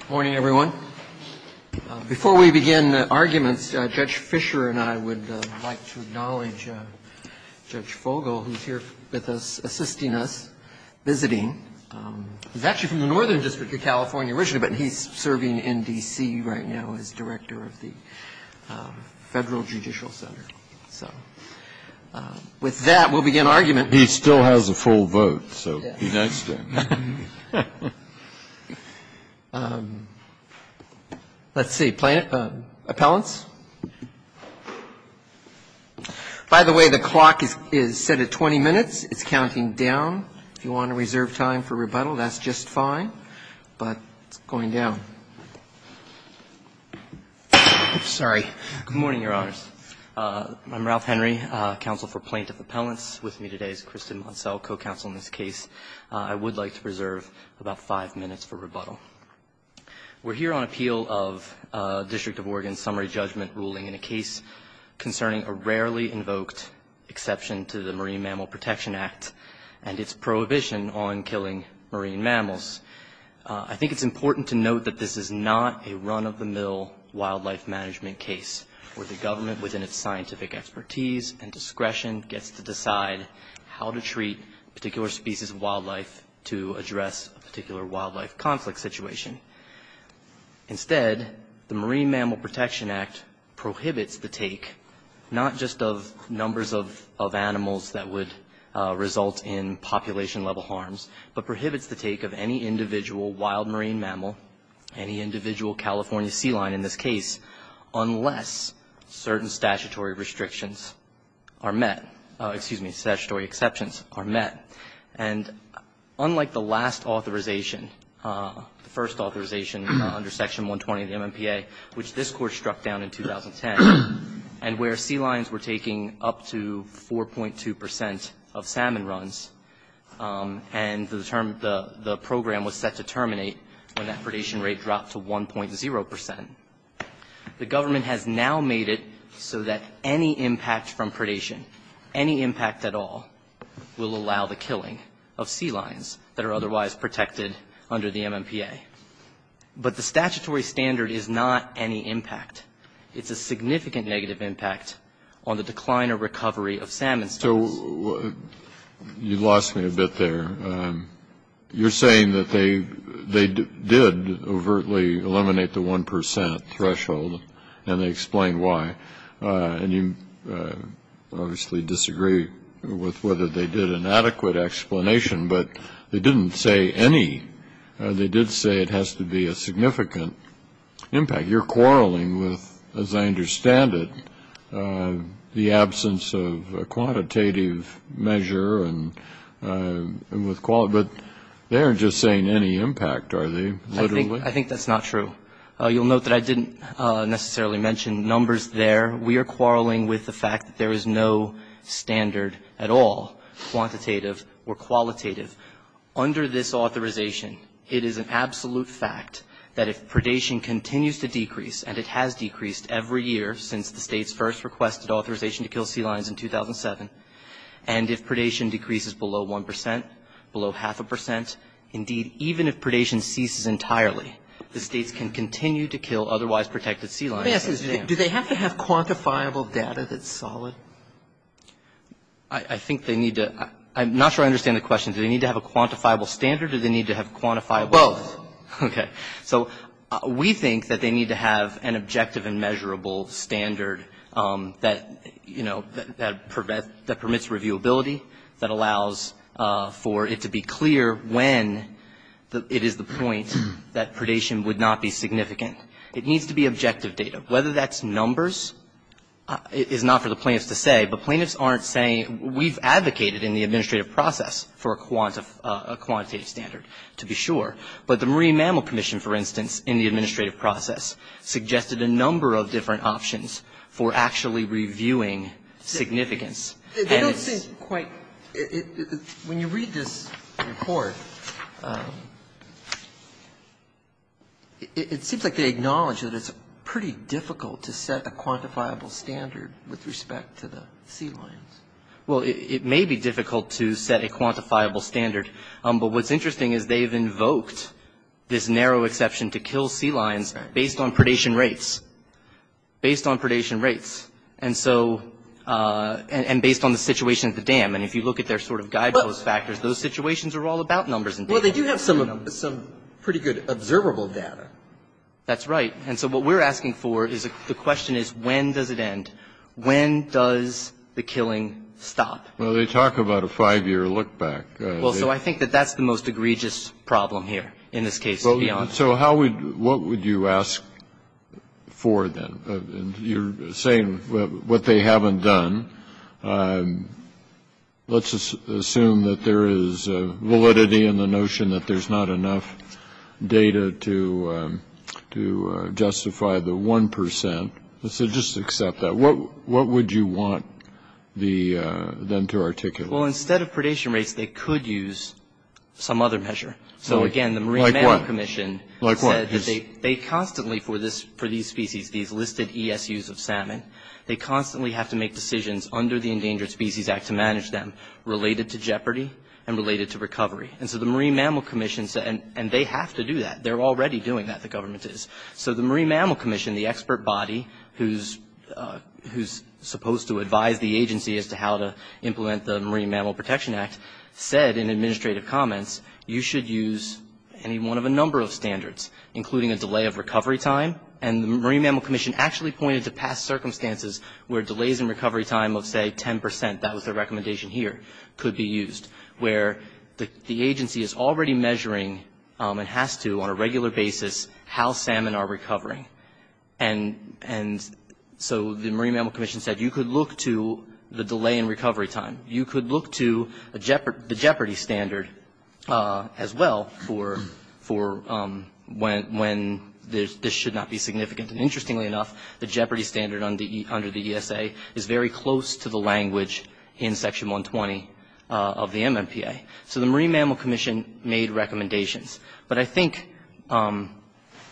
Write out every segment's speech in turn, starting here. Good morning, everyone. Before we begin arguments, Judge Fischer and I would like to acknowledge Judge Fogel, who's here with us, assisting us, visiting. He's actually from the Northern District of California originally, but he's serving in D.C. right now as director of the Federal Judicial Center. So with that, we'll begin argument. He still has a full vote, so be nice to him. Let's see. Appellants. By the way, the clock is set at 20 minutes. It's counting down. If you want to reserve time for rebuttal, that's just fine. But it's going down. Sorry. Good morning, Your Honors. I'm Ralph Henry, counsel for Plaintiff Appellants. With me today is Kristen Munsell, co-counsel in this case. I would like to reserve about five minutes for rebuttal. We're here on appeal of District of Oregon's summary judgment ruling in a case concerning a rarely invoked exception to the Marine Mammal Protection Act and its prohibition on killing marine mammals. I think it's important to note that this is not a run-of-the-mill wildlife management case where the government, within its scientific expertise and discretion, gets to decide how to treat a particular species of wildlife to address a particular wildlife conflict situation. Instead, the Marine Mammal Protection Act prohibits the take not just of numbers of animals that would result in population-level harms, but prohibits the take of any individual wild marine mammal, any individual California sea lion in this case, unless certain statutory restrictions are met, excuse me, statutory exceptions are met. And unlike the last authorization, the first authorization under Section 120 of the MMPA, which this Court struck down in 2010, and where sea lions were taking up to 4.2 percent of salmon runs, and the program was set to terminate when that predation rate dropped to 1.0 percent, the government has now made it so that any impact from predation, any impact at all, will allow the killing of sea lions that are otherwise protected under the MMPA. But the statutory standard is not any impact. It's a significant negative impact on the decline or recovery of salmon. You lost me a bit there. You're saying that they did overtly eliminate the 1 percent threshold, and they explained why. And you obviously disagree with whether they did an adequate explanation, but they didn't say any. They did say it has to be a significant impact. You're quarreling with, as I understand it, the absence of a quantitative measure and with quality. But they aren't just saying any impact, are they, literally? I think that's not true. You'll note that I didn't necessarily mention numbers there. We are quarreling with the fact that there is no standard at all, quantitative or qualitative. Under this authorization, it is an absolute fact that if predation continues to decrease, and it has decreased every year since the States first requested authorization to kill sea lions in 2007, and if predation decreases below 1 percent, below half a percent, indeed, even if predation ceases entirely, the States can continue to kill otherwise protected sea lions. Do they have to have quantifiable data that's solid? I think they need to. I'm not sure I understand the question. Do they need to have a quantifiable standard or do they need to have quantifiable? Both. Okay. So we think that they need to have an objective and measurable standard that, you know, that permits reviewability, that allows for it to be clear when it is the point that predation would not be significant. It needs to be objective data. Whether that's numbers is not for the plaintiffs to say, but plaintiffs aren't saying we've advocated in the administrative process for a quantitative standard, to be sure. But the Marine Mammal Commission, for instance, in the administrative process, suggested a number of different options for actually reviewing significance. They don't seem quite – when you read this report, it seems like they acknowledge that it's pretty difficult to set a quantifiable standard with respect to the sea lions. Well, it may be difficult to set a quantifiable standard. But what's interesting is they've invoked this narrow exception to kill sea lions based on predation rates. Based on predation rates. And so – and based on the situation at the dam. And if you look at their sort of guidepost factors, those situations are all about numbers. Well, they do have some pretty good observable data. That's right. And so what we're asking for is – the question is when does it end? When does the killing stop? Well, they talk about a five-year look back. Well, so I think that that's the most egregious problem here in this case. So how would – what would you ask for then? You're saying what they haven't done. Let's assume that there is validity in the notion that there's not enough data to justify the 1 percent. So just accept that. What would you want them to articulate? Well, instead of predation rates, they could use some other measure. So, again, the Marine Management Commission said that they constantly – for these species, these listed ESUs of salmon, they constantly have to make decisions under the Endangered Species Act to manage them related to jeopardy and related to recovery. And so the Marine Mammal Commission said – and they have to do that. They're already doing that, the government is. So the Marine Mammal Commission, the expert body who's supposed to advise the agency as to how to implement the Marine Mammal Protection Act, said in administrative comments, you should use any one of a number of standards, including a delay of recovery time. And the Marine Mammal Commission actually pointed to past circumstances where delays in recovery time of, say, 10 percent – that was their recommendation here – could be used, where the agency is already measuring and has to on a regular basis how salmon are recovering. And so the Marine Mammal Commission said you could look to the delay in recovery time. You could look to the jeopardy standard as well for when this should not be significant. And interestingly enough, the jeopardy standard under the ESA is very close to the language in Section 120 of the MMPA. So the Marine Mammal Commission made recommendations. But I think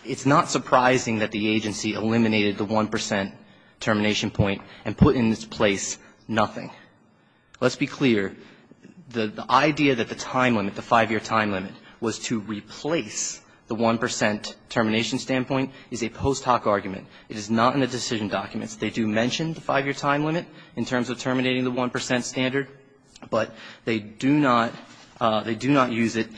it's not surprising that the agency eliminated the one percent termination point and put in its place nothing. Let's be clear. The idea that the time limit, the 5-year time limit, was to replace the one percent termination standpoint is a post hoc argument. It is not in the decision documents. They do mention the 5-year time limit in terms of terminating the one percent standard, but they do not use it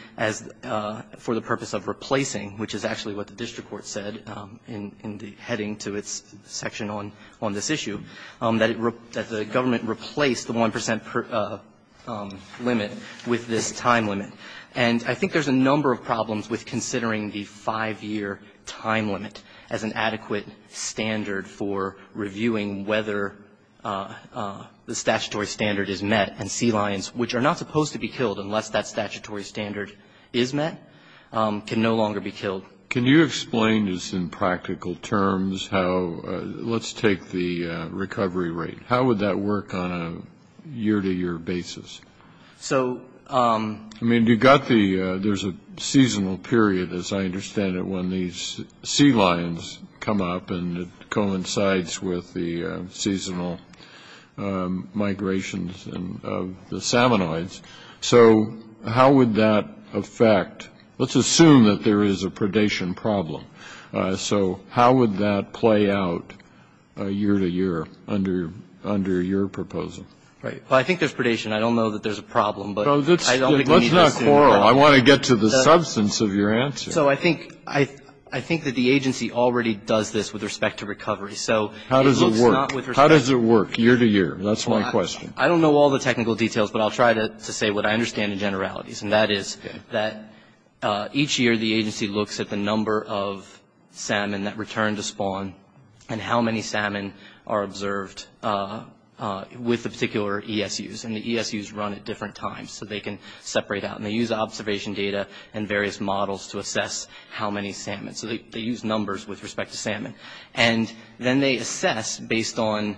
for the purpose of replacing, which is actually what the district court said in the heading to its section on this issue, that the government replaced the one percent limit with this time limit. And I think there's a number of problems with considering the 5-year time limit as an adequate standard for reviewing whether the statutory standard is met and sea lions, which are not supposed to be killed unless that statutory standard is met, can no longer be killed. Can you explain just in practical terms how, let's take the recovery rate, how would that work on a year-to-year basis? I mean, you've got the, there's a seasonal period, as I understand it, when these sea lions come up and it coincides with the seasonal migrations of the salmonoids. So how would that affect, let's assume that there is a predation problem. So how would that play out year-to-year under your proposal? Right. Well, I think there's predation. I don't know that there's a problem, but I don't think we need to assume that. Let's not quarrel. I want to get to the substance of your answer. So I think that the agency already does this with respect to recovery. So it's not with respect to recovery. How does it work, year-to-year? That's my question. I don't know all the technical details, but I'll try to say what I understand in generalities, and that is that each year, the agency looks at the number of salmon that return to spawn and how many salmon are observed with the particular ESUs. And the ESUs run at different times, so they can separate out. And they use observation data and various models to assess how many salmon. So they use numbers with respect to salmon. And then they assess, based on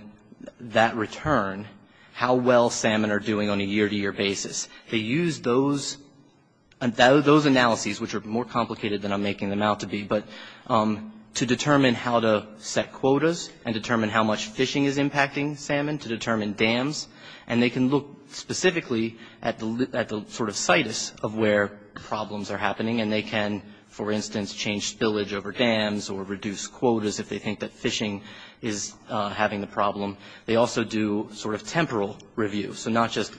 that return, how well salmon are doing on a year-to-year basis. They use those analyses, which are more complicated than I'm making them out to be, but to determine how to set quotas and determine how much fishing is impacting salmon to determine dams. And they can look specifically at the sort of situs of where problems are happening. And they can, for instance, change spillage over dams or reduce quotas if they think that fishing is having a problem. They also do sort of temporal review. So not just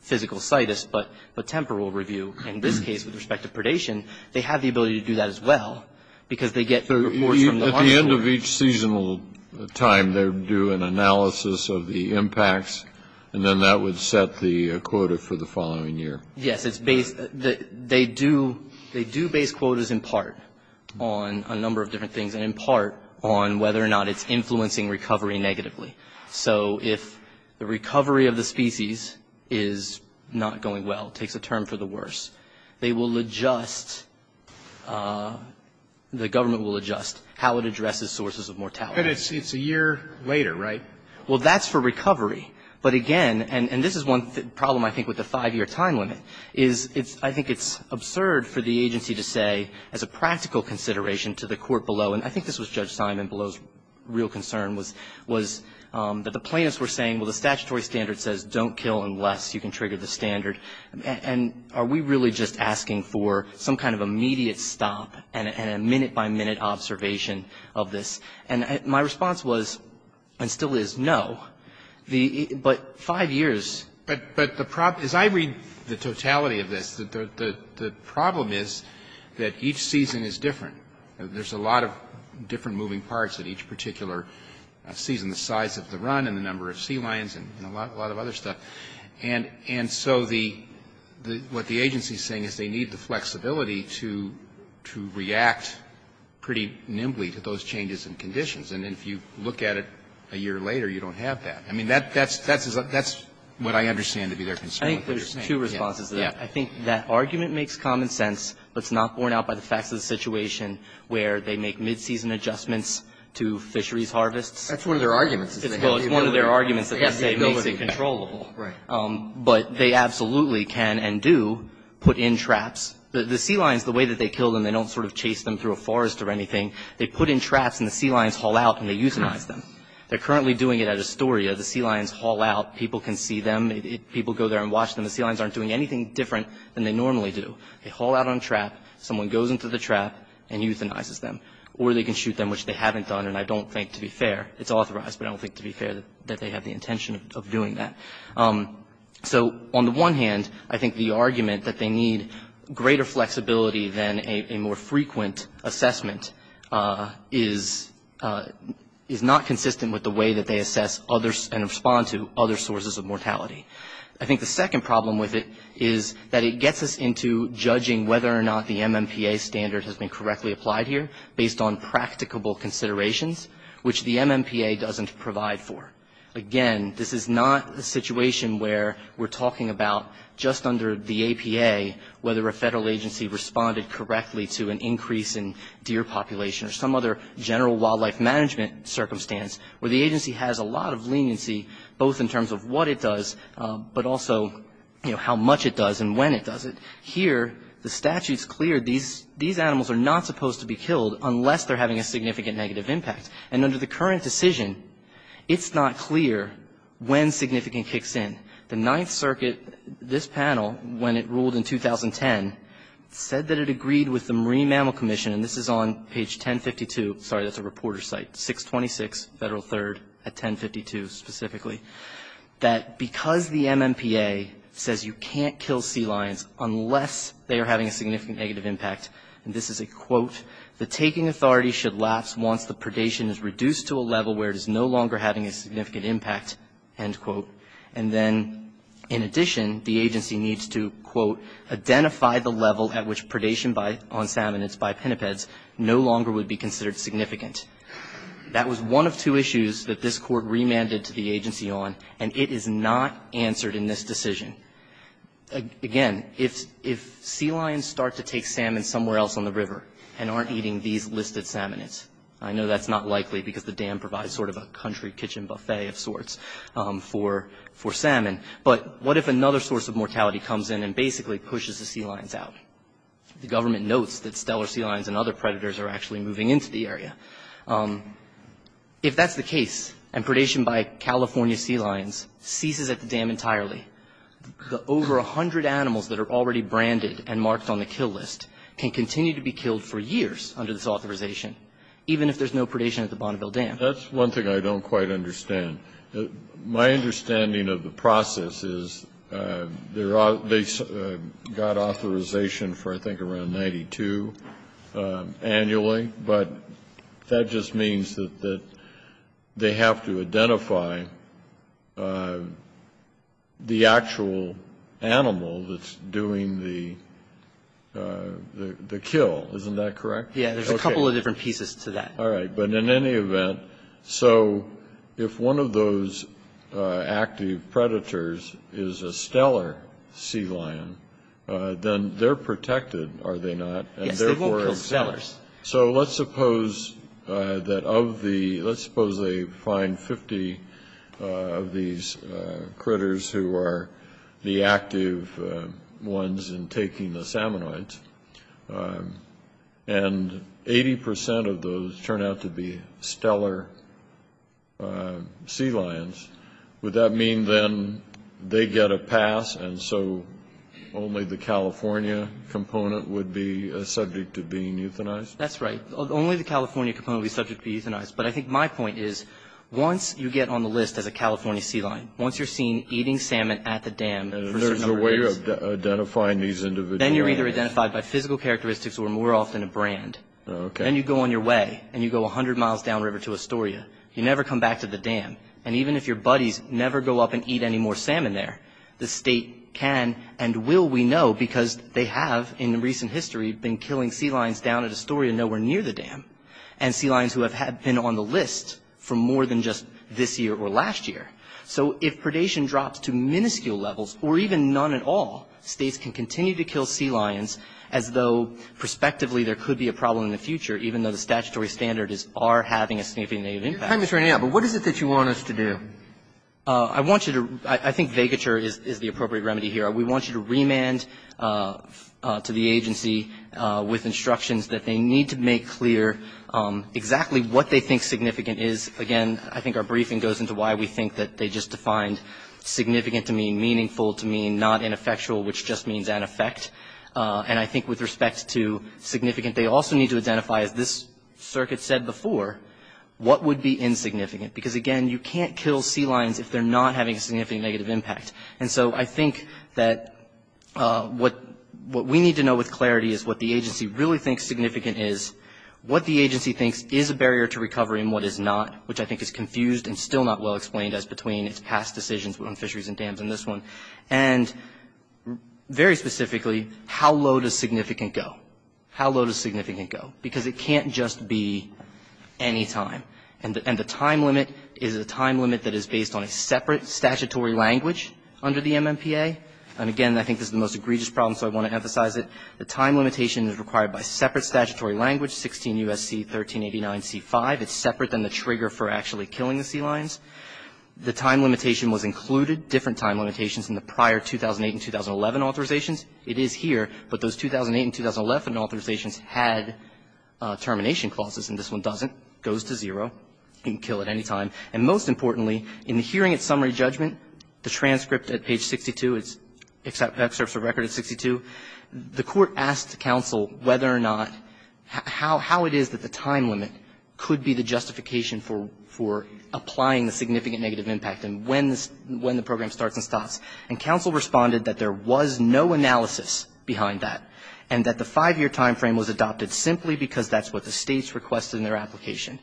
physical situs, but temporal review. And in this case, with respect to predation, they have the ability to do that as well because they get reports from the hospital. At the end of each seasonal time, they do an analysis of the impacts, and then that would set the quota for the following year. Yes, it's based. They do base quotas in part on a number of different things and in part on whether or not it's influencing recovery negatively. So if the recovery of the species is not going well, takes a term for the worse, they will adjust, the government will adjust how it addresses sources of mortality. And it's a year later, right? Well, that's for recovery. But again, and this is one problem, I think, with the 5-year time limit, is I think it's absurd for the agency to say as a practical consideration to the court below, and I think this was Judge Simon below's real concern, was that the plaintiffs were saying, well, the statutory standard says don't kill unless you can trigger the standard. And are we really just asking for some kind of immediate stop and a minute-by-minute observation of this? And my response was, and still is, no. But 5 years. But the problem, as I read the totality of this, the problem is that each season is different. There's a lot of different moving parts that each particular season, the size of the run and the number of sea lions and a lot of other stuff. And so what the agency is saying is they need the flexibility to react pretty nimbly to those changes in conditions. And if you look at it a year later, you don't have that. I mean, that's what I understand to be their concern. I think there's two responses to that. I think that argument makes common sense, but it's not borne out by the facts of the situation where they make mid-season adjustments to fisheries harvests. That's one of their arguments. Well, it's one of their arguments that makes it controllable. Right. But they absolutely can and do put in traps. The sea lions, the way that they kill them, they don't sort of chase them through a forest or anything. They put in traps and the sea lions haul out and they euthanize them. They're currently doing it at Astoria. The sea lions haul out. People can see them. People go there and watch them. The sea lions aren't doing anything different than they normally do. They haul out on a trap. Someone goes into the trap and euthanizes them. Or they can shoot them, which they haven't done, and I don't think, to be fair, it's authorized, but I don't think to be fair that they have the intention of doing that. So on the one hand, I think the argument that they need greater flexibility than a more frequent assessment is not consistent with the way that they assess others and respond to other sources of mortality. I think the second problem with it is that it gets us into judging whether or not the MMPA standard has been correctly applied here based on practicable considerations, which the MMPA doesn't provide for. Again, this is not a situation where we're talking about just under the APA whether a federal agency responded correctly to an increase in deer population or some other general wildlife management circumstance where the agency has a lot of leniency, both in terms of what it does, but also, you know, how much it does and when it does it. Here, the statute's clear. These animals are not supposed to be killed unless they're having a significant negative impact. And under the current decision, it's not clear when significant kicks in. The Ninth Circuit, this panel, when it ruled in 2010, said that it agreed with the Marine Mammal Commission, and this is on page 1052, sorry, that's a reporter site, 626 Federal 3rd at 1052 specifically, that because the MMPA says you can't kill sea lions unless they are having a significant negative impact, and this is a quote, the taking authority should lapse once the predation is reduced to a level where it is no longer having a significant impact, end quote, and then, in addition, the agency needs to, quote, at which predation on salmonids by pinnipeds no longer would be considered significant. That was one of two issues that this Court remanded to the agency on, and it is not answered in this decision. Again, if sea lions start to take salmon somewhere else on the river and aren't eating these listed salmonids, I know that's not likely because the dam provides sort of a country kitchen buffet of sorts for salmon, but what if another source of mortality comes in and basically pushes the sea lions out? The government notes that stellar sea lions and other predators are actually moving into the area. If that's the case, and predation by California sea lions ceases at the dam entirely, the over 100 animals that are already branded and marked on the kill list can continue to be killed for years under this authorization, even if there's no predation at the Bonneville Dam. That's one thing I don't quite understand. My understanding of the process is they got authorization for, I think, around 92 annually, but that just means that they have to identify the actual animal that's doing the kill. Isn't that correct? Yes. There's a couple of different pieces to that. All right. But in any event, so if one of those active predators is a stellar sea lion, then they're protected, are they not? Yes, they won't kill stellars. So let's suppose that of the, let's suppose they find 50 of these critters who are the active ones in taking the salmonids, and 80 percent of those turn out to be stellar sea lions. Would that mean then they get a pass, and so only the California component would be subject to being euthanized? That's right. Only the California component would be subject to being euthanized. But I think my point is once you get on the list as a California sea lion, once you're seen eating salmon at the dam for a certain number of days. There's a way of identifying these individuals. Then you're either identified by physical characteristics or more often a brand. Okay. Then you go on your way, and you go 100 miles downriver to Astoria. You never come back to the dam. And even if your buddies never go up and eat any more salmon there, the state can and will, we know, because they have in recent history been killing sea lions down at Astoria nowhere near the dam, and sea lions who have been on the list for more than just this year or last year. So if predation drops to minuscule levels or even none at all, States can continue to kill sea lions as though prospectively there could be a problem in the future, even though the statutory standards are having a significant impact. Your time is running out. But what is it that you want us to do? I want you to – I think vacature is the appropriate remedy here. We want you to remand to the agency with instructions that they need to make clear exactly what they think significant is. Again, I think our briefing goes into why we think that they just defined significant to mean meaningful, to mean not ineffectual, which just means an effect. And I think with respect to significant, they also need to identify, as this circuit said before, what would be insignificant? Because, again, you can't kill sea lions if they're not having a significant negative impact. And so I think that what we need to know with clarity is what the agency really thinks significant is. What the agency thinks is a barrier to recovery and what is not, which I think is confused and still not well explained as between its past decisions on fisheries and dams in this one. And very specifically, how low does significant go? How low does significant go? Because it can't just be any time. And the time limit is a time limit that is based on a separate statutory language under the MMPA. And, again, I think this is the most egregious problem, so I want to emphasize it. The time limitation is required by separate statutory language, 16 U.S.C. 1389C5. It's separate than the trigger for actually killing the sea lions. The time limitation was included, different time limitations, in the prior 2008 and 2011 authorizations. It is here, but those 2008 and 2011 authorizations had termination clauses, and this one doesn't. It goes to zero. You can kill at any time. And most importantly, in the hearing at summary judgment, the transcript at page 62, it's excerpts of record at 62. The court asked counsel whether or not how it is that the time limit could be the justification for applying the significant negative impact and when the program starts and stops. And counsel responded that there was no analysis behind that and that the five-year time frame was adopted simply because that's what the States requested in their application.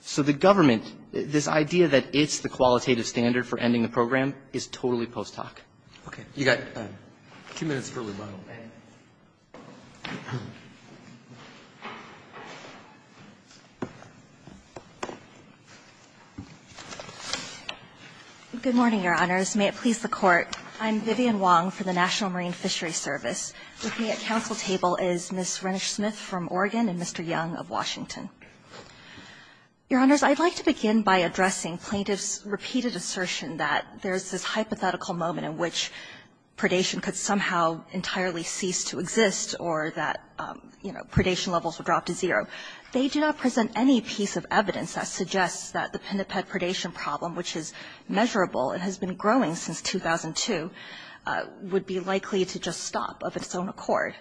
So the government, this idea that it's the qualitative standard for ending the program is totally post hoc. Okay. You got two minutes for rebuttal. Good morning, Your Honors. May it please the Court. I'm Vivian Wong for the National Marine Fishery Service. With me at counsel table is Ms. Renish Smith from Oregon and Mr. Young of Washington. Your Honors, I'd like to begin by addressing plaintiffs' repeated assertion that there's this hypothetical moment in which predation could somehow entirely cease to exist or that, you know, predation levels would drop to zero. They do not present any piece of evidence that suggests that the pinniped predation problem, which is measurable and has been growing since 2002, would be likely to just stop of its own accord.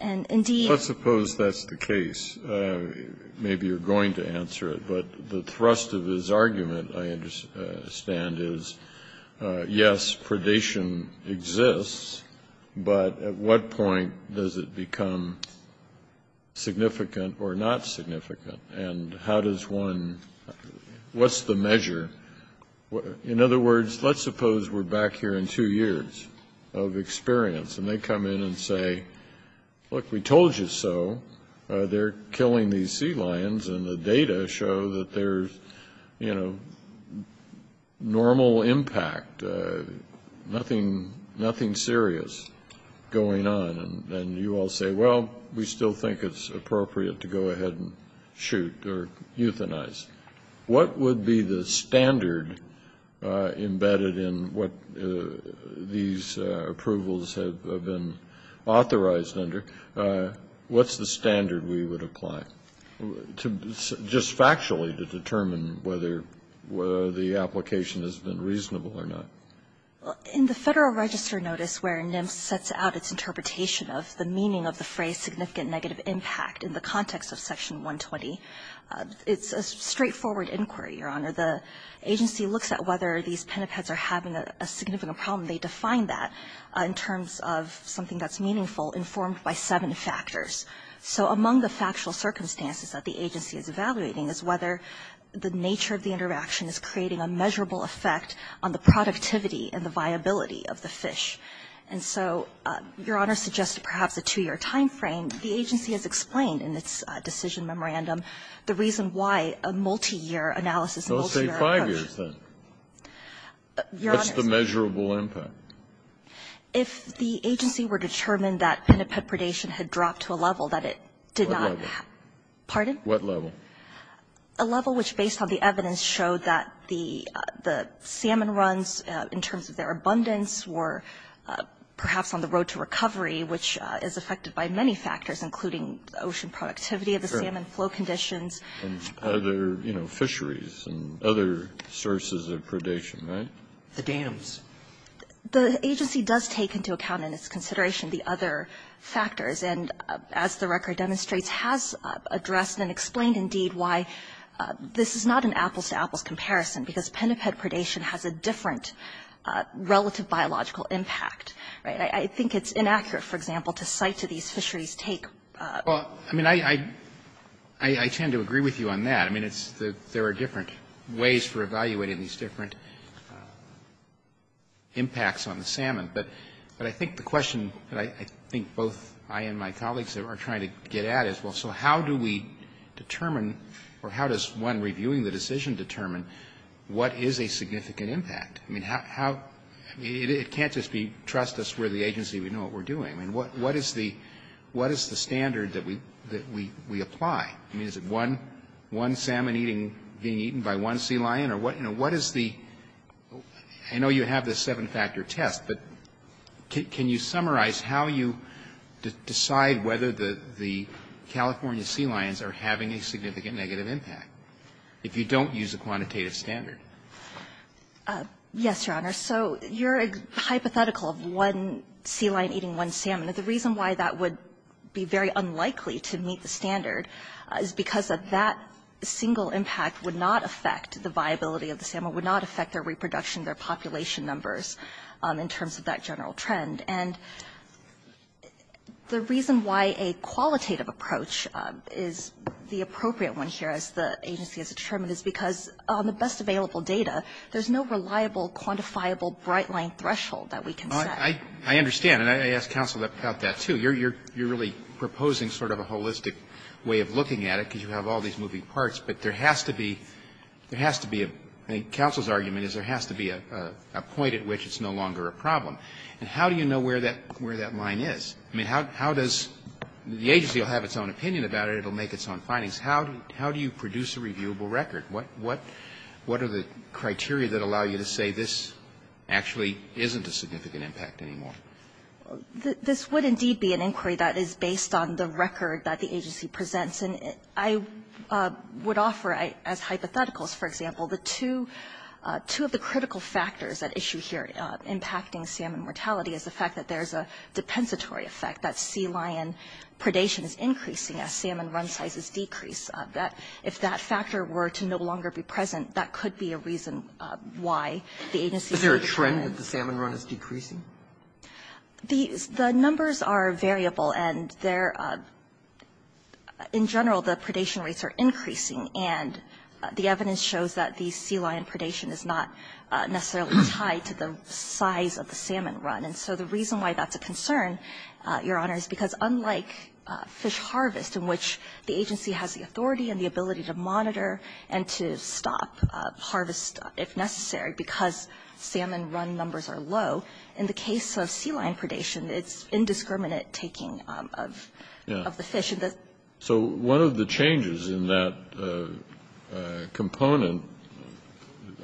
And indeed the case, maybe you're going to answer it, but the thrust of his argument, I understand, is, yes, predation exists, but at what point does it become significant or not significant? And how does one, what's the measure? In other words, let's suppose we're back here in two years of experience and they come in and say, look, we told you so. They're killing these sea lions and the data show that there's, you know, normal impact, nothing serious going on. And you all say, well, we still think it's appropriate to go ahead and shoot or euthanize. What would be the standard embedded in what these approvals have been authorized under? What's the standard we would apply, just factually, to determine whether the application has been reasonable or not? In the Federal Register notice where NIMS sets out its interpretation of the meaning of the phrase significant negative impact in the context of section 120, it's a straightforward inquiry, Your Honor. The agency looks at whether these pinnipeds are having a significant problem. They define that in terms of something that's meaningful informed by seven factors. So among the factual circumstances that the agency is evaluating is whether the nature of the interaction is creating a measurable effect on the productivity and the viability of the fish. And so Your Honor suggested perhaps a two-year time frame. The agency has explained in its decision memorandum the reason why a multiyear analysis and multiyear approach. What's that? What's the measurable impact? If the agency were determined that pinniped predation had dropped to a level that it did not have. Pardon? What level? A level which, based on the evidence, showed that the salmon runs, in terms of their abundance, were perhaps on the road to recovery, which is affected by many factors, including ocean productivity of the salmon, flow conditions. And other, you know, fisheries and other sources of predation, right? The dams. The agency does take into account in its consideration the other factors. And as the record demonstrates, has addressed and explained, indeed, why this is not an apples-to-apples comparison, because pinniped predation has a different relative biological impact, right? I think it's inaccurate, for example, to cite to these fisheries take. Well, I mean, I tend to agree with you on that. I mean, there are different ways for evaluating these different impacts on the salmon. But I think the question that I think both I and my colleagues are trying to get at is, well, so how do we determine, or how does one reviewing the decision determine what is a significant impact? I mean, it can't just be trust us, we're the agency, we know what we're doing. I mean, what is the standard that we apply? I mean, is it one salmon being eaten by one sea lion? Or what is the – I know you have this seven-factor test, but can you summarize how you decide whether the California sea lions are having a significant negative impact, if you don't use a quantitative standard? Yes, Your Honor. So you're hypothetical of one sea lion eating one salmon. The reason why that would be very unlikely to meet the standard is because of that single impact would not affect the viability of the salmon, would not affect their reproduction, their population numbers in terms of that general trend. And the reason why a qualitative approach is the appropriate one here, as the agency has determined, is because on the best available data, there's no reliable, quantifiable, bright-line threshold that we can set. I understand. And I asked counsel about that, too. You're really proposing sort of a holistic way of looking at it, because you have all these moving parts. But there has to be – there has to be a – I think counsel's argument is there has to be a point at which it's no longer a problem. And how do you know where that line is? I mean, how does – the agency will have its own opinion about it. It will make its own findings. How do you produce a reviewable record? What are the criteria that allow you to say this actually isn't a significant impact anymore? This would indeed be an inquiry that is based on the record that the agency presents. And I would offer as hypotheticals, for example, the two – two of the critical factors at issue here impacting salmon mortality is the fact that there's a depensatory effect, that sea lion predation is increasing as salmon run sizes decrease, that if that factor were to no longer be present, that could be a reason why the agency is increasing. Is there a trend that the salmon run is decreasing? The numbers are variable. And they're – in general, the predation rates are increasing. And the evidence shows that the sea lion predation is not necessarily tied to the size of the salmon run. And so the reason why that's a concern, Your Honor, is because unlike fish harvest, in which the agency has the authority and the ability to monitor and to stop harvest if necessary because salmon run numbers are low, in the case of sea lion predation, it's indiscriminate taking of the fish. So one of the changes in that component,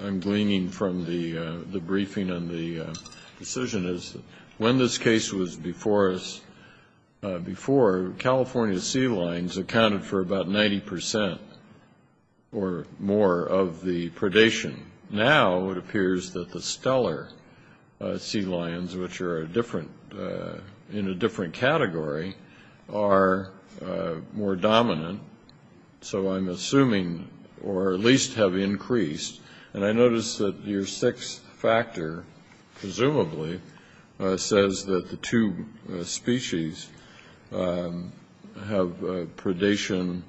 I'm gleaning from the briefing and the decision, is when this case was before us before, California sea lions accounted for about 90 percent or more of the predation. Now it appears that the stellar sea lions, which are different – in a different category, are more dominant. So I'm assuming – or at least have increased. And I notice that your sixth factor, presumably, says that the two species have predation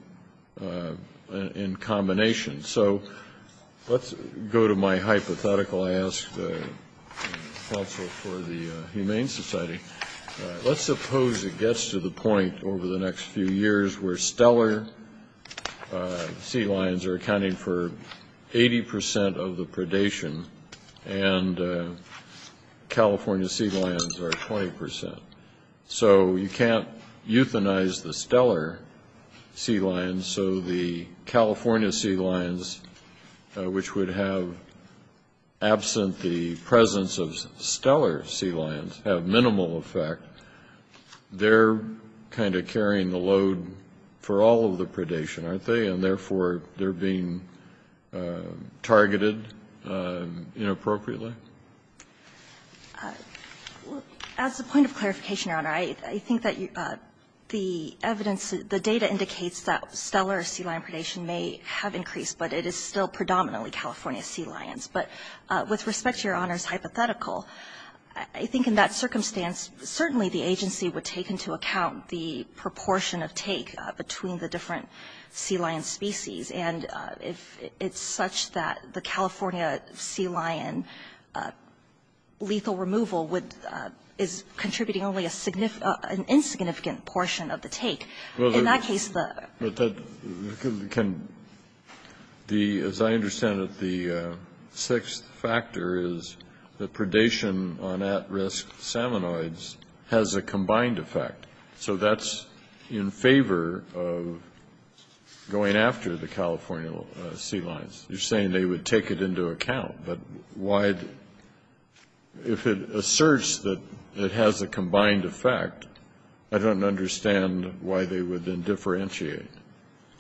in combination. So let's go to my hypothetical. I asked the counsel for the Humane Society. Let's suppose it gets to the point over the next few years where stellar sea lions are accounting for 80 percent of the predation and California sea lions are 20 percent. So you can't euthanize the stellar sea lions. So the California sea lions, which would have, absent the presence of stellar sea lions, have minimal effect. They're kind of carrying the load for all of the predation, aren't they? And therefore, they're being targeted inappropriately? As a point of clarification, Your Honor, I think that the evidence, the data indicates that stellar sea lion predation may have increased, but it is still predominantly California sea lions. But with respect to Your Honor's hypothetical, I think in that circumstance, certainly the agency would take into account the proportion of take between the different sea lion species. And if it's such that the California sea lion lethal removal is contributing only an insignificant portion of the take, in that case the ‑‑ combined effect. So that's in favor of going after the California sea lions. You're saying they would take it into account. But why ‑‑ if it asserts that it has a combined effect, I don't understand why they would then differentiate.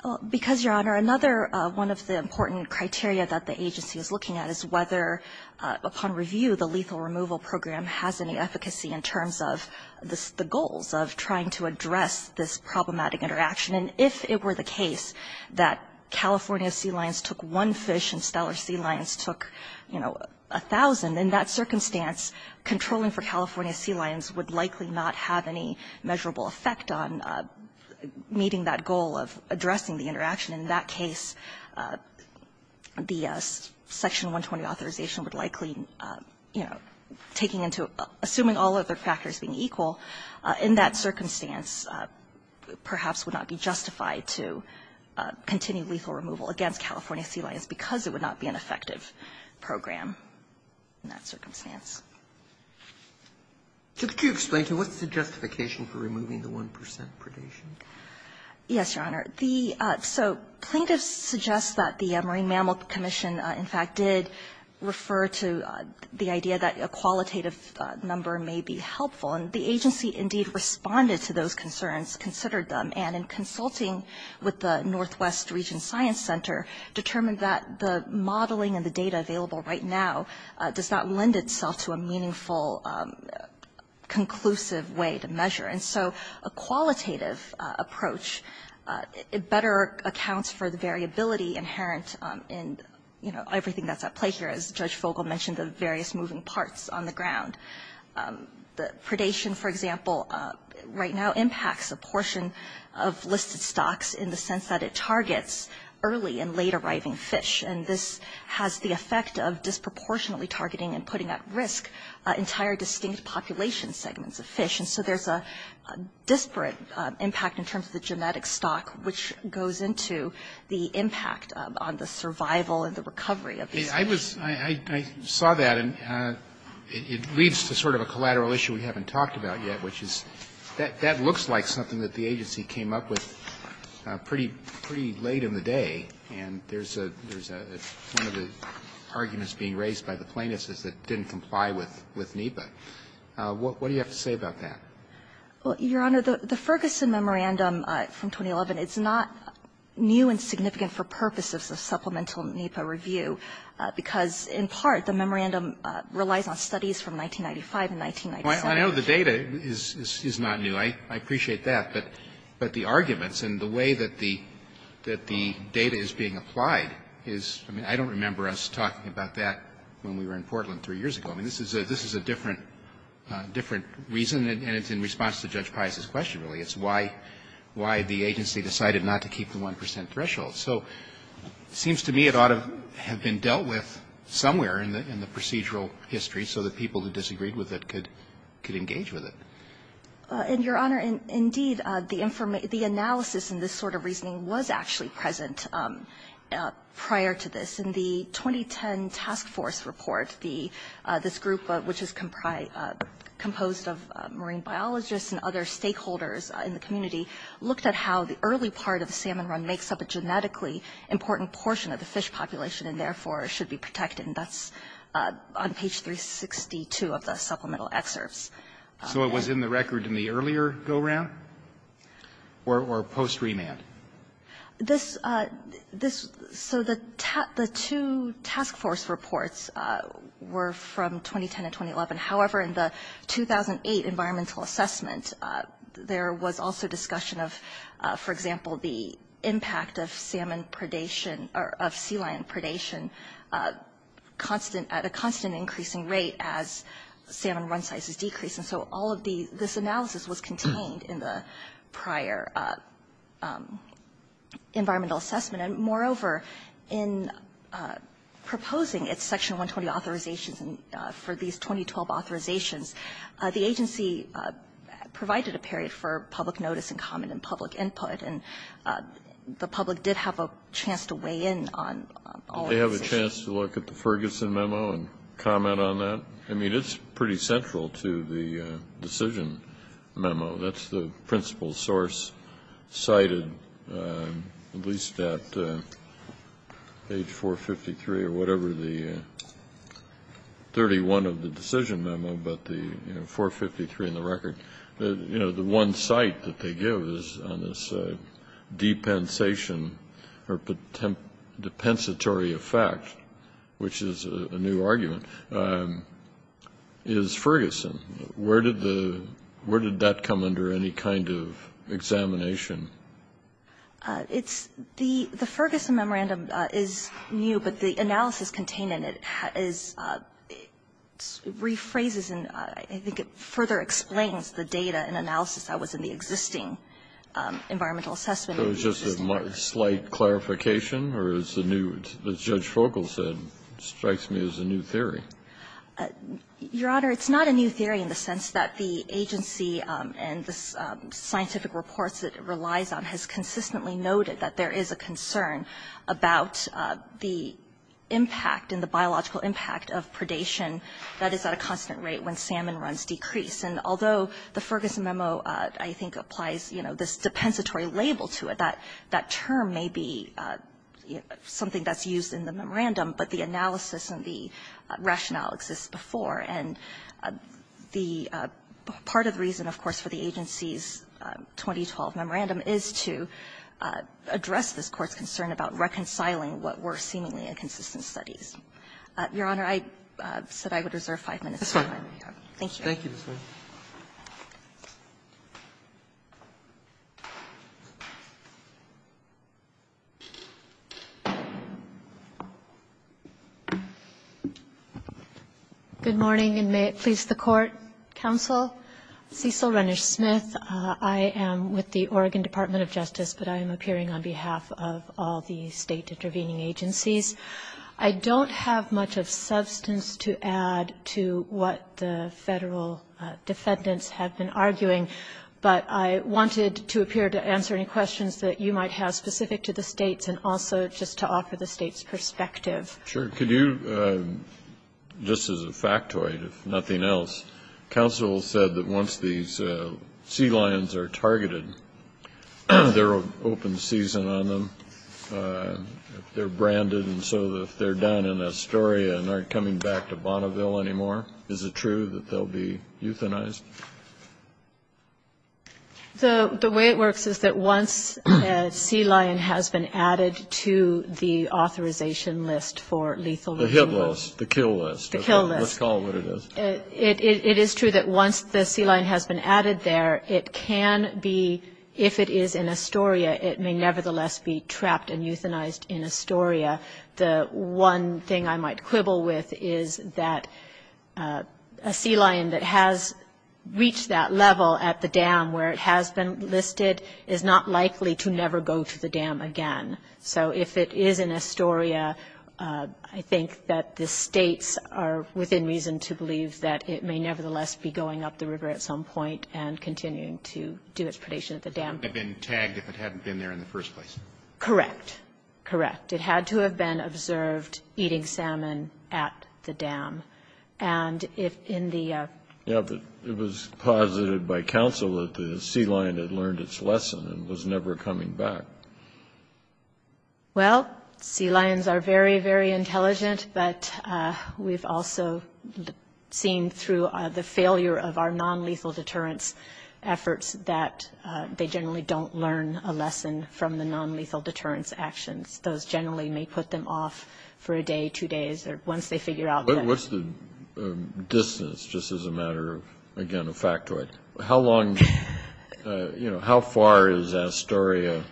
Well, because, Your Honor, another one of the important criteria that the agency is looking at is whether, upon review, the lethal removal program has any efficacy in terms of the goals of trying to address this problematic interaction. And if it were the case that California sea lions took one fish and stellar sea lions took, you know, a thousand, in that circumstance, controlling for California sea lions would likely not have any measurable effect on meeting that goal of addressing the interaction. In that case, the Section 120 authorization would likely, you know, taking into ‑‑ assuming all other factors being equal, in that circumstance, perhaps would not be justified to continue lethal removal against California sea lions because it would not be an effective program in that circumstance. Could you explain to me what's the justification for removing the 1 percent predation? Yes, Your Honor. So plaintiffs suggest that the Marine Mammal Commission, in fact, did refer to the idea that a qualitative number may be helpful. And the agency, indeed, responded to those concerns, considered them, and in consulting with the Northwest Region Science Center, determined that the modeling and the data available right now does not lend itself to a meaningful, conclusive way to measure. And so a qualitative approach better accounts for the variability inherent in, you know, everything that's at play here, as Judge Vogel mentioned, the various moving parts on the ground. Predation, for example, right now impacts a portion of listed stocks in the sense that it targets early and late arriving fish, and this has the effect of disproportionately targeting and putting at risk entire distinct population segments of fish. So there's a disparate impact in terms of the genetic stock, which goes into the impact on the survival and the recovery of these fish. I was – I saw that, and it leads to sort of a collateral issue we haven't talked about yet, which is that that looks like something that the agency came up with pretty late in the day, and there's a – one of the arguments being raised by the plaintiffs is it didn't comply with NEPA. What do you have to say about that? Well, Your Honor, the Ferguson Memorandum from 2011, it's not new and significant for purposes of supplemental NEPA review because, in part, the memorandum relies on studies from 1995 and 1997. I know the data is not new. I appreciate that. But the arguments and the way that the data is being applied is – I mean, I don't remember us talking about that when we were in Portland three years ago. I mean, this is a different reason, and it's in response to Judge Pius' question, really. It's why the agency decided not to keep the 1 percent threshold. So it seems to me it ought to have been dealt with somewhere in the procedural history so that people who disagreed with it could engage with it. And, Your Honor, indeed, the analysis and this sort of reasoning was actually present prior to this. In the 2010 task force report, this group, which is composed of marine biologists and other stakeholders in the community, looked at how the early part of the salmon run makes up a genetically important portion of the fish population and, therefore, should be protected, and that's on page 362 of the supplemental excerpts. So it was in the record in the earlier go-round or post-remand? This – so the two task force reports were from 2010 and 2011. However, in the 2008 environmental assessment, there was also discussion of, for example, the impact of salmon predation – or of sea lion predation at a constant increasing rate as salmon run sizes decreased. And so all of the – this analysis was contained in the prior environmental assessment. And, moreover, in proposing its Section 120 authorizations for these 2012 authorizations, the agency provided a period for public notice and comment and public input, and the public did have a chance to weigh in on all of these issues. Kennedy. Did they have a chance to look at the Ferguson memo and comment on that? I mean, it's pretty central to the decision memo. That's the principal source cited at least at page 453 or whatever the – 31 of the decision memo, but the – you know, 453 in the record. You know, the one cite that they give is on this depensation – or depensatory effect, which is a new argument. Is Ferguson – where did the – where did that come under any kind of examination? It's – the Ferguson memorandum is new, but the analysis contained in it is – it rephrases and I think it further explains the data and analysis that was in the existing environmental assessment. So it's just a slight clarification, or is the new – as Judge Fogel said, it strikes me as a new theory. Your Honor, it's not a new theory in the sense that the agency and the scientific reports that it relies on has consistently noted that there is a concern about the impact and the biological impact of predation that is at a constant rate when salmon runs decrease, and although the Ferguson memo, I think, applies, you know, this depensatory label to it, that term may be something that's used in the memorandum, but the analysis and the rationale exists before, and the – part of the reason, of course, for the agency's 2012 memorandum is to address this Court's concern about reconciling what were seemingly inconsistent studies. Your Honor, I said I would reserve five minutes. Thank you. Roberts. Good morning, and may it please the Court. Counsel, Cecil Renish Smith. I am with the Oregon Department of Justice, but I am appearing on behalf of all the State intervening agencies. I don't have much of substance to add to what the Federal defendants have been arguing, but I wanted to appear to answer any questions that you might have specific to the States and also just to offer the States' perspective. Sure. Could you, just as a factoid, if nothing else, counsel said that once these sea lions are targeted, if they're open season on them, if they're branded, and so if they're done in Astoria and aren't coming back to Bonneville anymore, is it true that they'll be euthanized? The way it works is that once a sea lion has been added to the authorization list for lethal resources. The hit list, the kill list. The kill list. Let's call it what it is. It is true that once the sea lion has been added there, it can be, if it is in Astoria, it may nevertheless be trapped and euthanized in Astoria. The one thing I might quibble with is that a sea lion that has reached that level at the dam where it has been listed is not likely to never go to the dam again. So if it is in Astoria, I think that the States are within reason to believe that it may nevertheless be going up the river at some point and continuing to do its predation at the dam. It would have been tagged if it hadn't been there in the first place. Correct. Correct. It had to have been observed eating salmon at the dam. And if in the — Yeah, but it was posited by counsel that the sea lion had learned its lesson and was never coming back. Well, sea lions are very, very intelligent, but we've also seen through the failure of our nonlethal deterrence efforts that they generally don't learn a lesson from the nonlethal deterrence actions. Those generally may put them off for a day, two days, or once they figure out that — What's the distance, just as a matter of, again, a factoid? How long — you know, how far is Astoria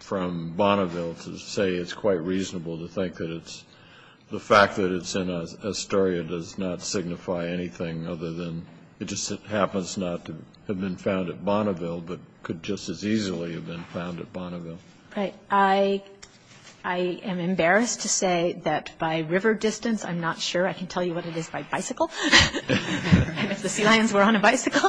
from Bonneville to say it's quite reasonable to think that it's — the fact that it's in Astoria does not signify anything other than it just happens not to have been found at Bonneville, but could just as easily have been found at Bonneville. Right. I am embarrassed to say that by river distance, I'm not sure I can tell you what it is by bicycle. If the sea lions were on a bicycle.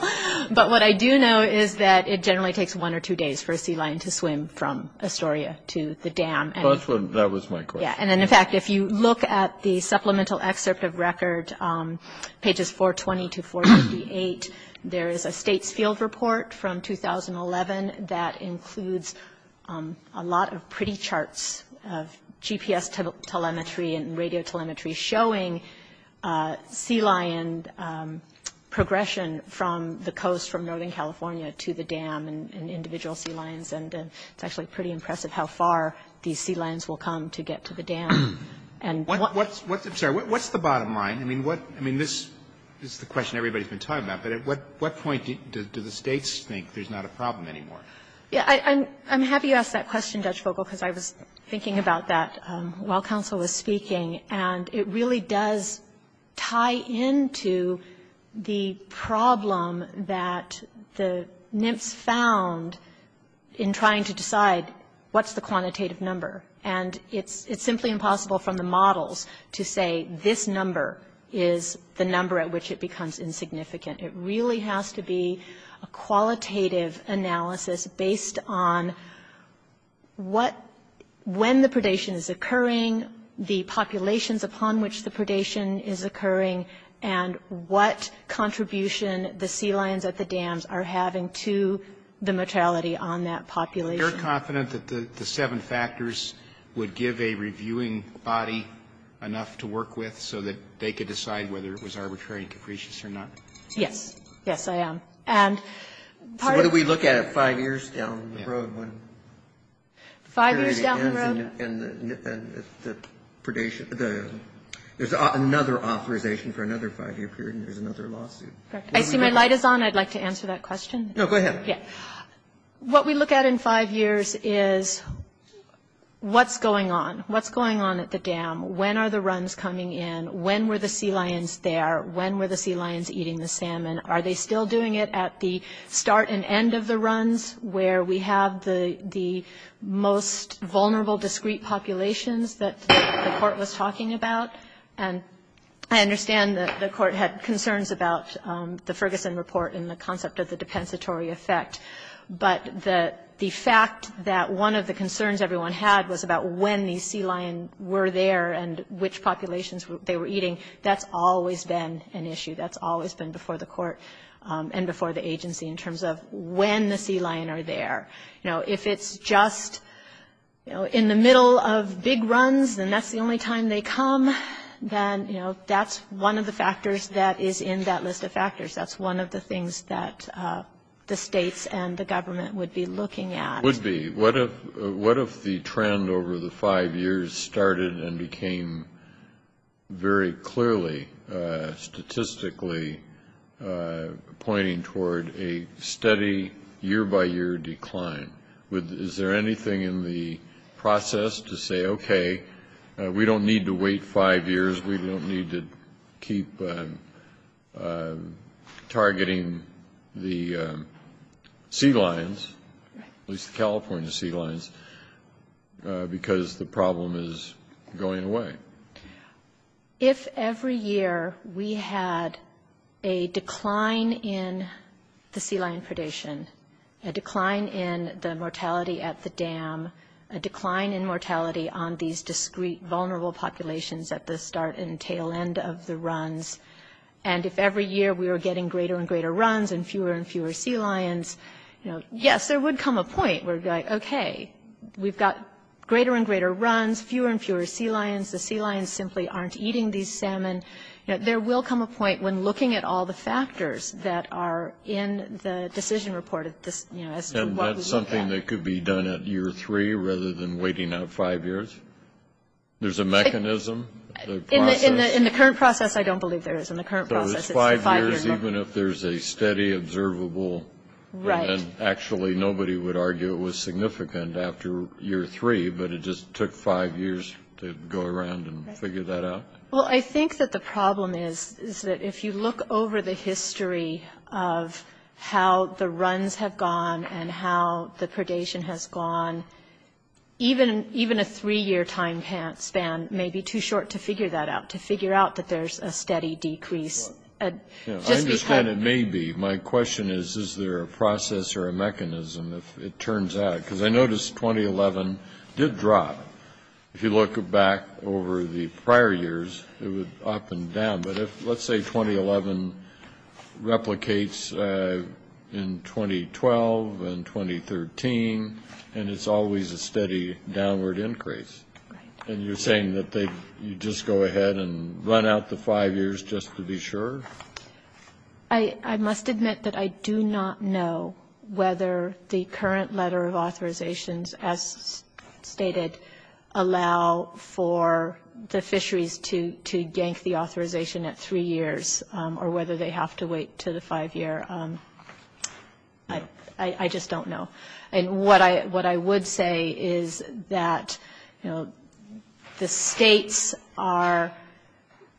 But what I do know is that it generally takes one or two days for a sea lion to swim from Astoria to the dam. That was my question. Yeah. And then, in fact, if you look at the supplemental excerpt of record, pages 420 to 458, there is a state's field report from 2011 that includes a lot of pretty charts of GPS telemetry and radio telemetry showing sea lion progression from the coast, from Northern California to the dam, and individual sea lions. And it's actually pretty impressive how far these sea lions will come to get to the dam. I'm sorry. What's the bottom line? I mean, this is the question everybody's been talking about. But at what point do the states think there's not a problem anymore? Yeah. I'm happy you asked that question, Judge Vogel, because I was thinking about that while counsel was speaking. And it really does tie into the problem that the NIMFS found in trying to decide what's the quantitative number. And it's simply impossible from the models to say this number is the number at which it becomes insignificant. It really has to be a qualitative analysis based on what, when the predation is occurring, the populations upon which the predation is occurring, and what contribution the sea lions at the dams are having to the mortality on that population. Are you confident that the seven factors would give a reviewing body enough to work with so that they could decide whether it was arbitrary and capricious or not? Yes. Yes, I am. And part of the... So what do we look at five years down the road when... Five years down the road? ...the predation, there's another authorization for another five-year period, and there's another lawsuit? Correct. I see my light is on. I'd like to answer that question. No, go ahead. Yeah. What we look at in five years is what's going on? What's going on at the dam? When are the runs coming in? When were the sea lions there? When were the sea lions eating the salmon? Are they still doing it at the start and end of the runs where we have the most vulnerable, discreet populations that the court was talking about? And I understand that the court had concerns about the Ferguson report and the concept of the depensatory effect, but the fact that one of the concerns everyone had was about when the sea lion were there and which populations they were eating, that's always been an issue. That's always been before the court and before the agency in terms of when the sea lion are there. You know, if it's just, you know, in the middle of big runs and that's the only time they come, then, you know, that's one of the factors that is in that list of factors. That's one of the things that the states and the government would be looking at. Would be. What if the trend over the five years started and became very clearly statistically pointing toward a steady year-by-year decline? Is there anything in the process to say, okay, we don't need to wait five years, we don't need to keep targeting the sea lions, at least the California sea lions, because the problem is going away? If every year we had a decline in the sea lion predation, a decline in the mortality at the dam, a decline in mortality on these discrete vulnerable populations at the start and tail end of the runs, and if every year we were getting greater and greater runs and fewer and fewer sea lions, you know, yes, there would come a point where it would be like, okay, we've got greater and greater runs, fewer and fewer sea lions, the sea lions simply aren't eating these salmon. There will come a point when looking at all the factors that are in the decision making, you know, you're going to have to wait five years. Is there anything that could be done at year three rather than waiting out five years? There's a mechanism? In the current process, I don't believe there is. In the current process, it's five years. So it's five years even if there's a steady observable, and then actually nobody would think it's significant after year three, but it just took five years to go around and figure that out? Well, I think that the problem is that if you look over the history of how the runs have gone and how the predation has gone, even a three-year time span may be too short to figure that out, to figure out that there's a steady decrease. I understand it may be. My question is, is there a process or a mechanism, if it turns out? Because I noticed 2011 did drop. If you look back over the prior years, it was up and down. But let's say 2011 replicates in 2012 and 2013, and it's always a steady downward increase. And you're saying that you just go ahead and run out the five years just to be sure? I must admit that I do not know whether the current letter of authorizations, as stated, allow for the fisheries to yank the authorization at three years, or whether they have to wait to the five year. I just don't know. And what I would say is that, you know, the states are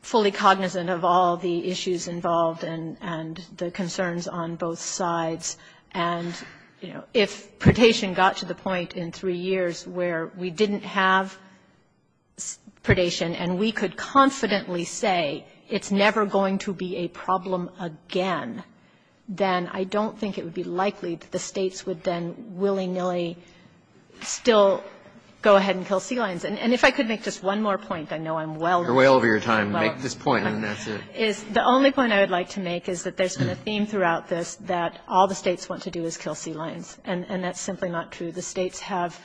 fully cognizant of all the issues involved and the concerns on both sides. And, you know, if predation got to the point in three years where we didn't have predation and we could confidently say it's never going to be a problem again, then I don't think it would be likely that the states would then willy-nilly still go ahead and kill sea lions. And if I could make just one more point, I know I'm well over your time. Make this point, and then that's it. The only point I would like to make is that there's been a theme throughout this that all the states want to do is kill sea lions. And that's simply not true. The states have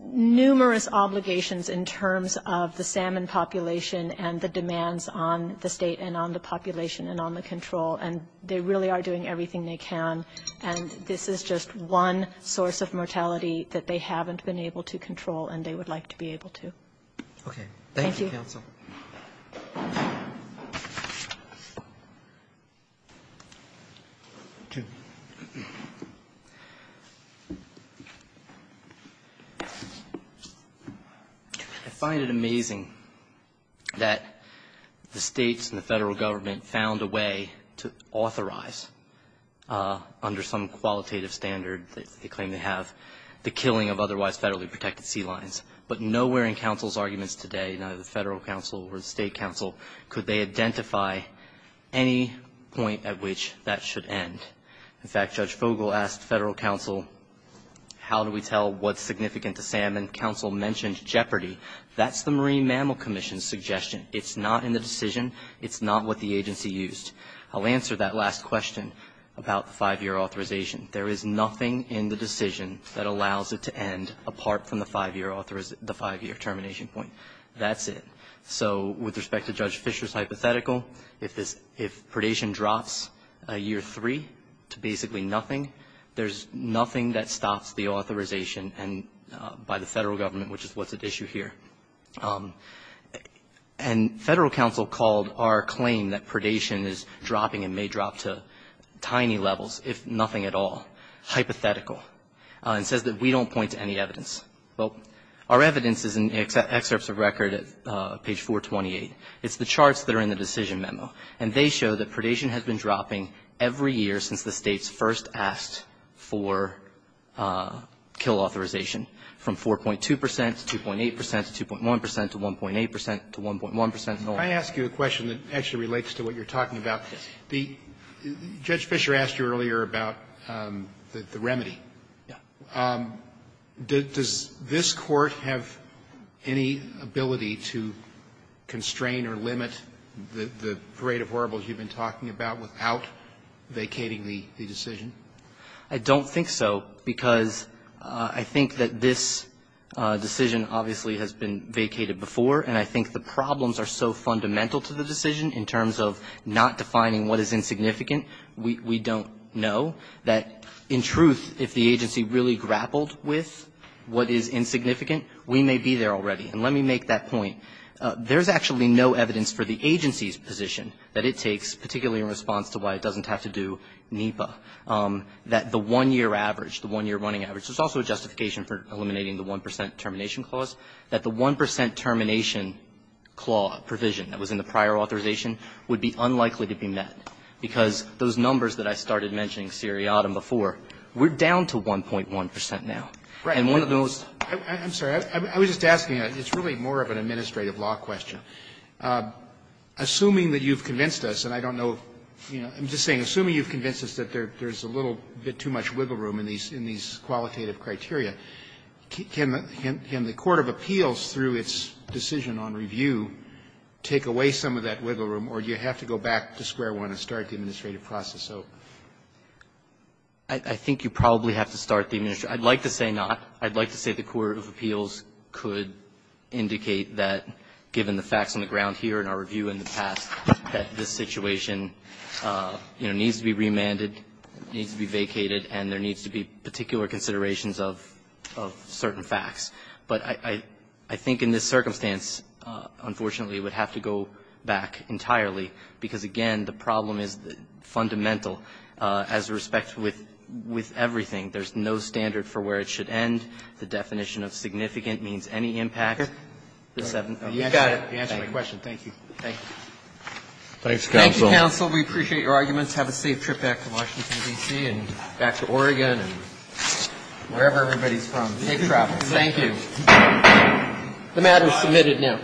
numerous obligations in terms of the salmon population and the demands on the state and on the population and on the control, and they really are doing everything they can. And this is just one source of mortality that they haven't been able to control and they would like to be able to. Thank you, counsel. I find it amazing that the states and the Federal Government found a way to authorize under some qualitative standard that they claim they have the killing of otherwise federally protected sea lions. But nowhere in counsel's arguments today, neither the federal counsel or the state counsel, could they identify any point at which that should end. In fact, Judge Fogel asked federal counsel, how do we tell what's significant to salmon? Counsel mentioned jeopardy. That's the Marine Mammal Commission's suggestion. It's not in the decision. It's not what the agency used. I'll answer that last question about the five-year authorization. There is nothing in the decision that allows it to end apart from the five-year termination point. That's it. So with respect to Judge Fischer's hypothetical, if predation drops a year three to basically nothing, there's nothing that stops the authorization by the federal government, which is what's at issue here. And federal counsel called our claim that predation is dropping and may drop to tiny levels, if nothing at all, hypothetical, and says that we don't point to any evidence. Well, our evidence is in the excerpts of record at page 428. It's the charts that are in the decision memo. And they show that predation has been dropping every year since the States first asked for kill authorization, from 4.2 percent to 2.8 percent to 2.1 percent to 1.8 percent to 1.1 percent and on. Roberts. I ask you a question that actually relates to what you're talking about. Judge Fischer asked you earlier about the remedy. Yeah. Does this Court have any ability to constrain or limit the parade of horribles you've been talking about without vacating the decision? I don't think so, because I think that this decision obviously has been vacated before, and I think the problems are so fundamental to the decision in terms of not really grappled with what is insignificant, we may be there already. And let me make that point. There's actually no evidence for the agency's position that it takes, particularly in response to why it doesn't have to do NEPA, that the 1-year average, the 1-year running average, there's also a justification for eliminating the 1 percent termination clause, that the 1 percent termination provision that was in the prior authorization would be unlikely to be met, because those numbers that I started mentioning, seriatim before, we're down to 1.1 percent now. Right. And one of those. I'm sorry. I was just asking. It's really more of an administrative law question. Assuming that you've convinced us, and I don't know if, you know, I'm just saying, assuming you've convinced us that there's a little bit too much wiggle room in these qualitative criteria, can the court of appeals, through its decision on review, take away some of that wiggle room, or do you have to go back to square one and start the administrative process over? I think you probably have to start the administrative. I'd like to say not. I'd like to say the court of appeals could indicate that, given the facts on the ground here in our review in the past, that this situation, you know, needs to be remanded, needs to be vacated, and there needs to be particular considerations of certain facts. But I think in this circumstance, unfortunately, it would have to go back entirely, because, again, the problem is fundamental as respect with everything. There's no standard for where it should end. The definition of significant means any impact. You got it. You answered my question. Thank you. Thank you. Thank you, counsel. We appreciate your arguments. Have a safe trip back to Washington, D.C., and back to Oregon, and wherever everybody's from. Safe travels. Thank you. The matter is submitted now.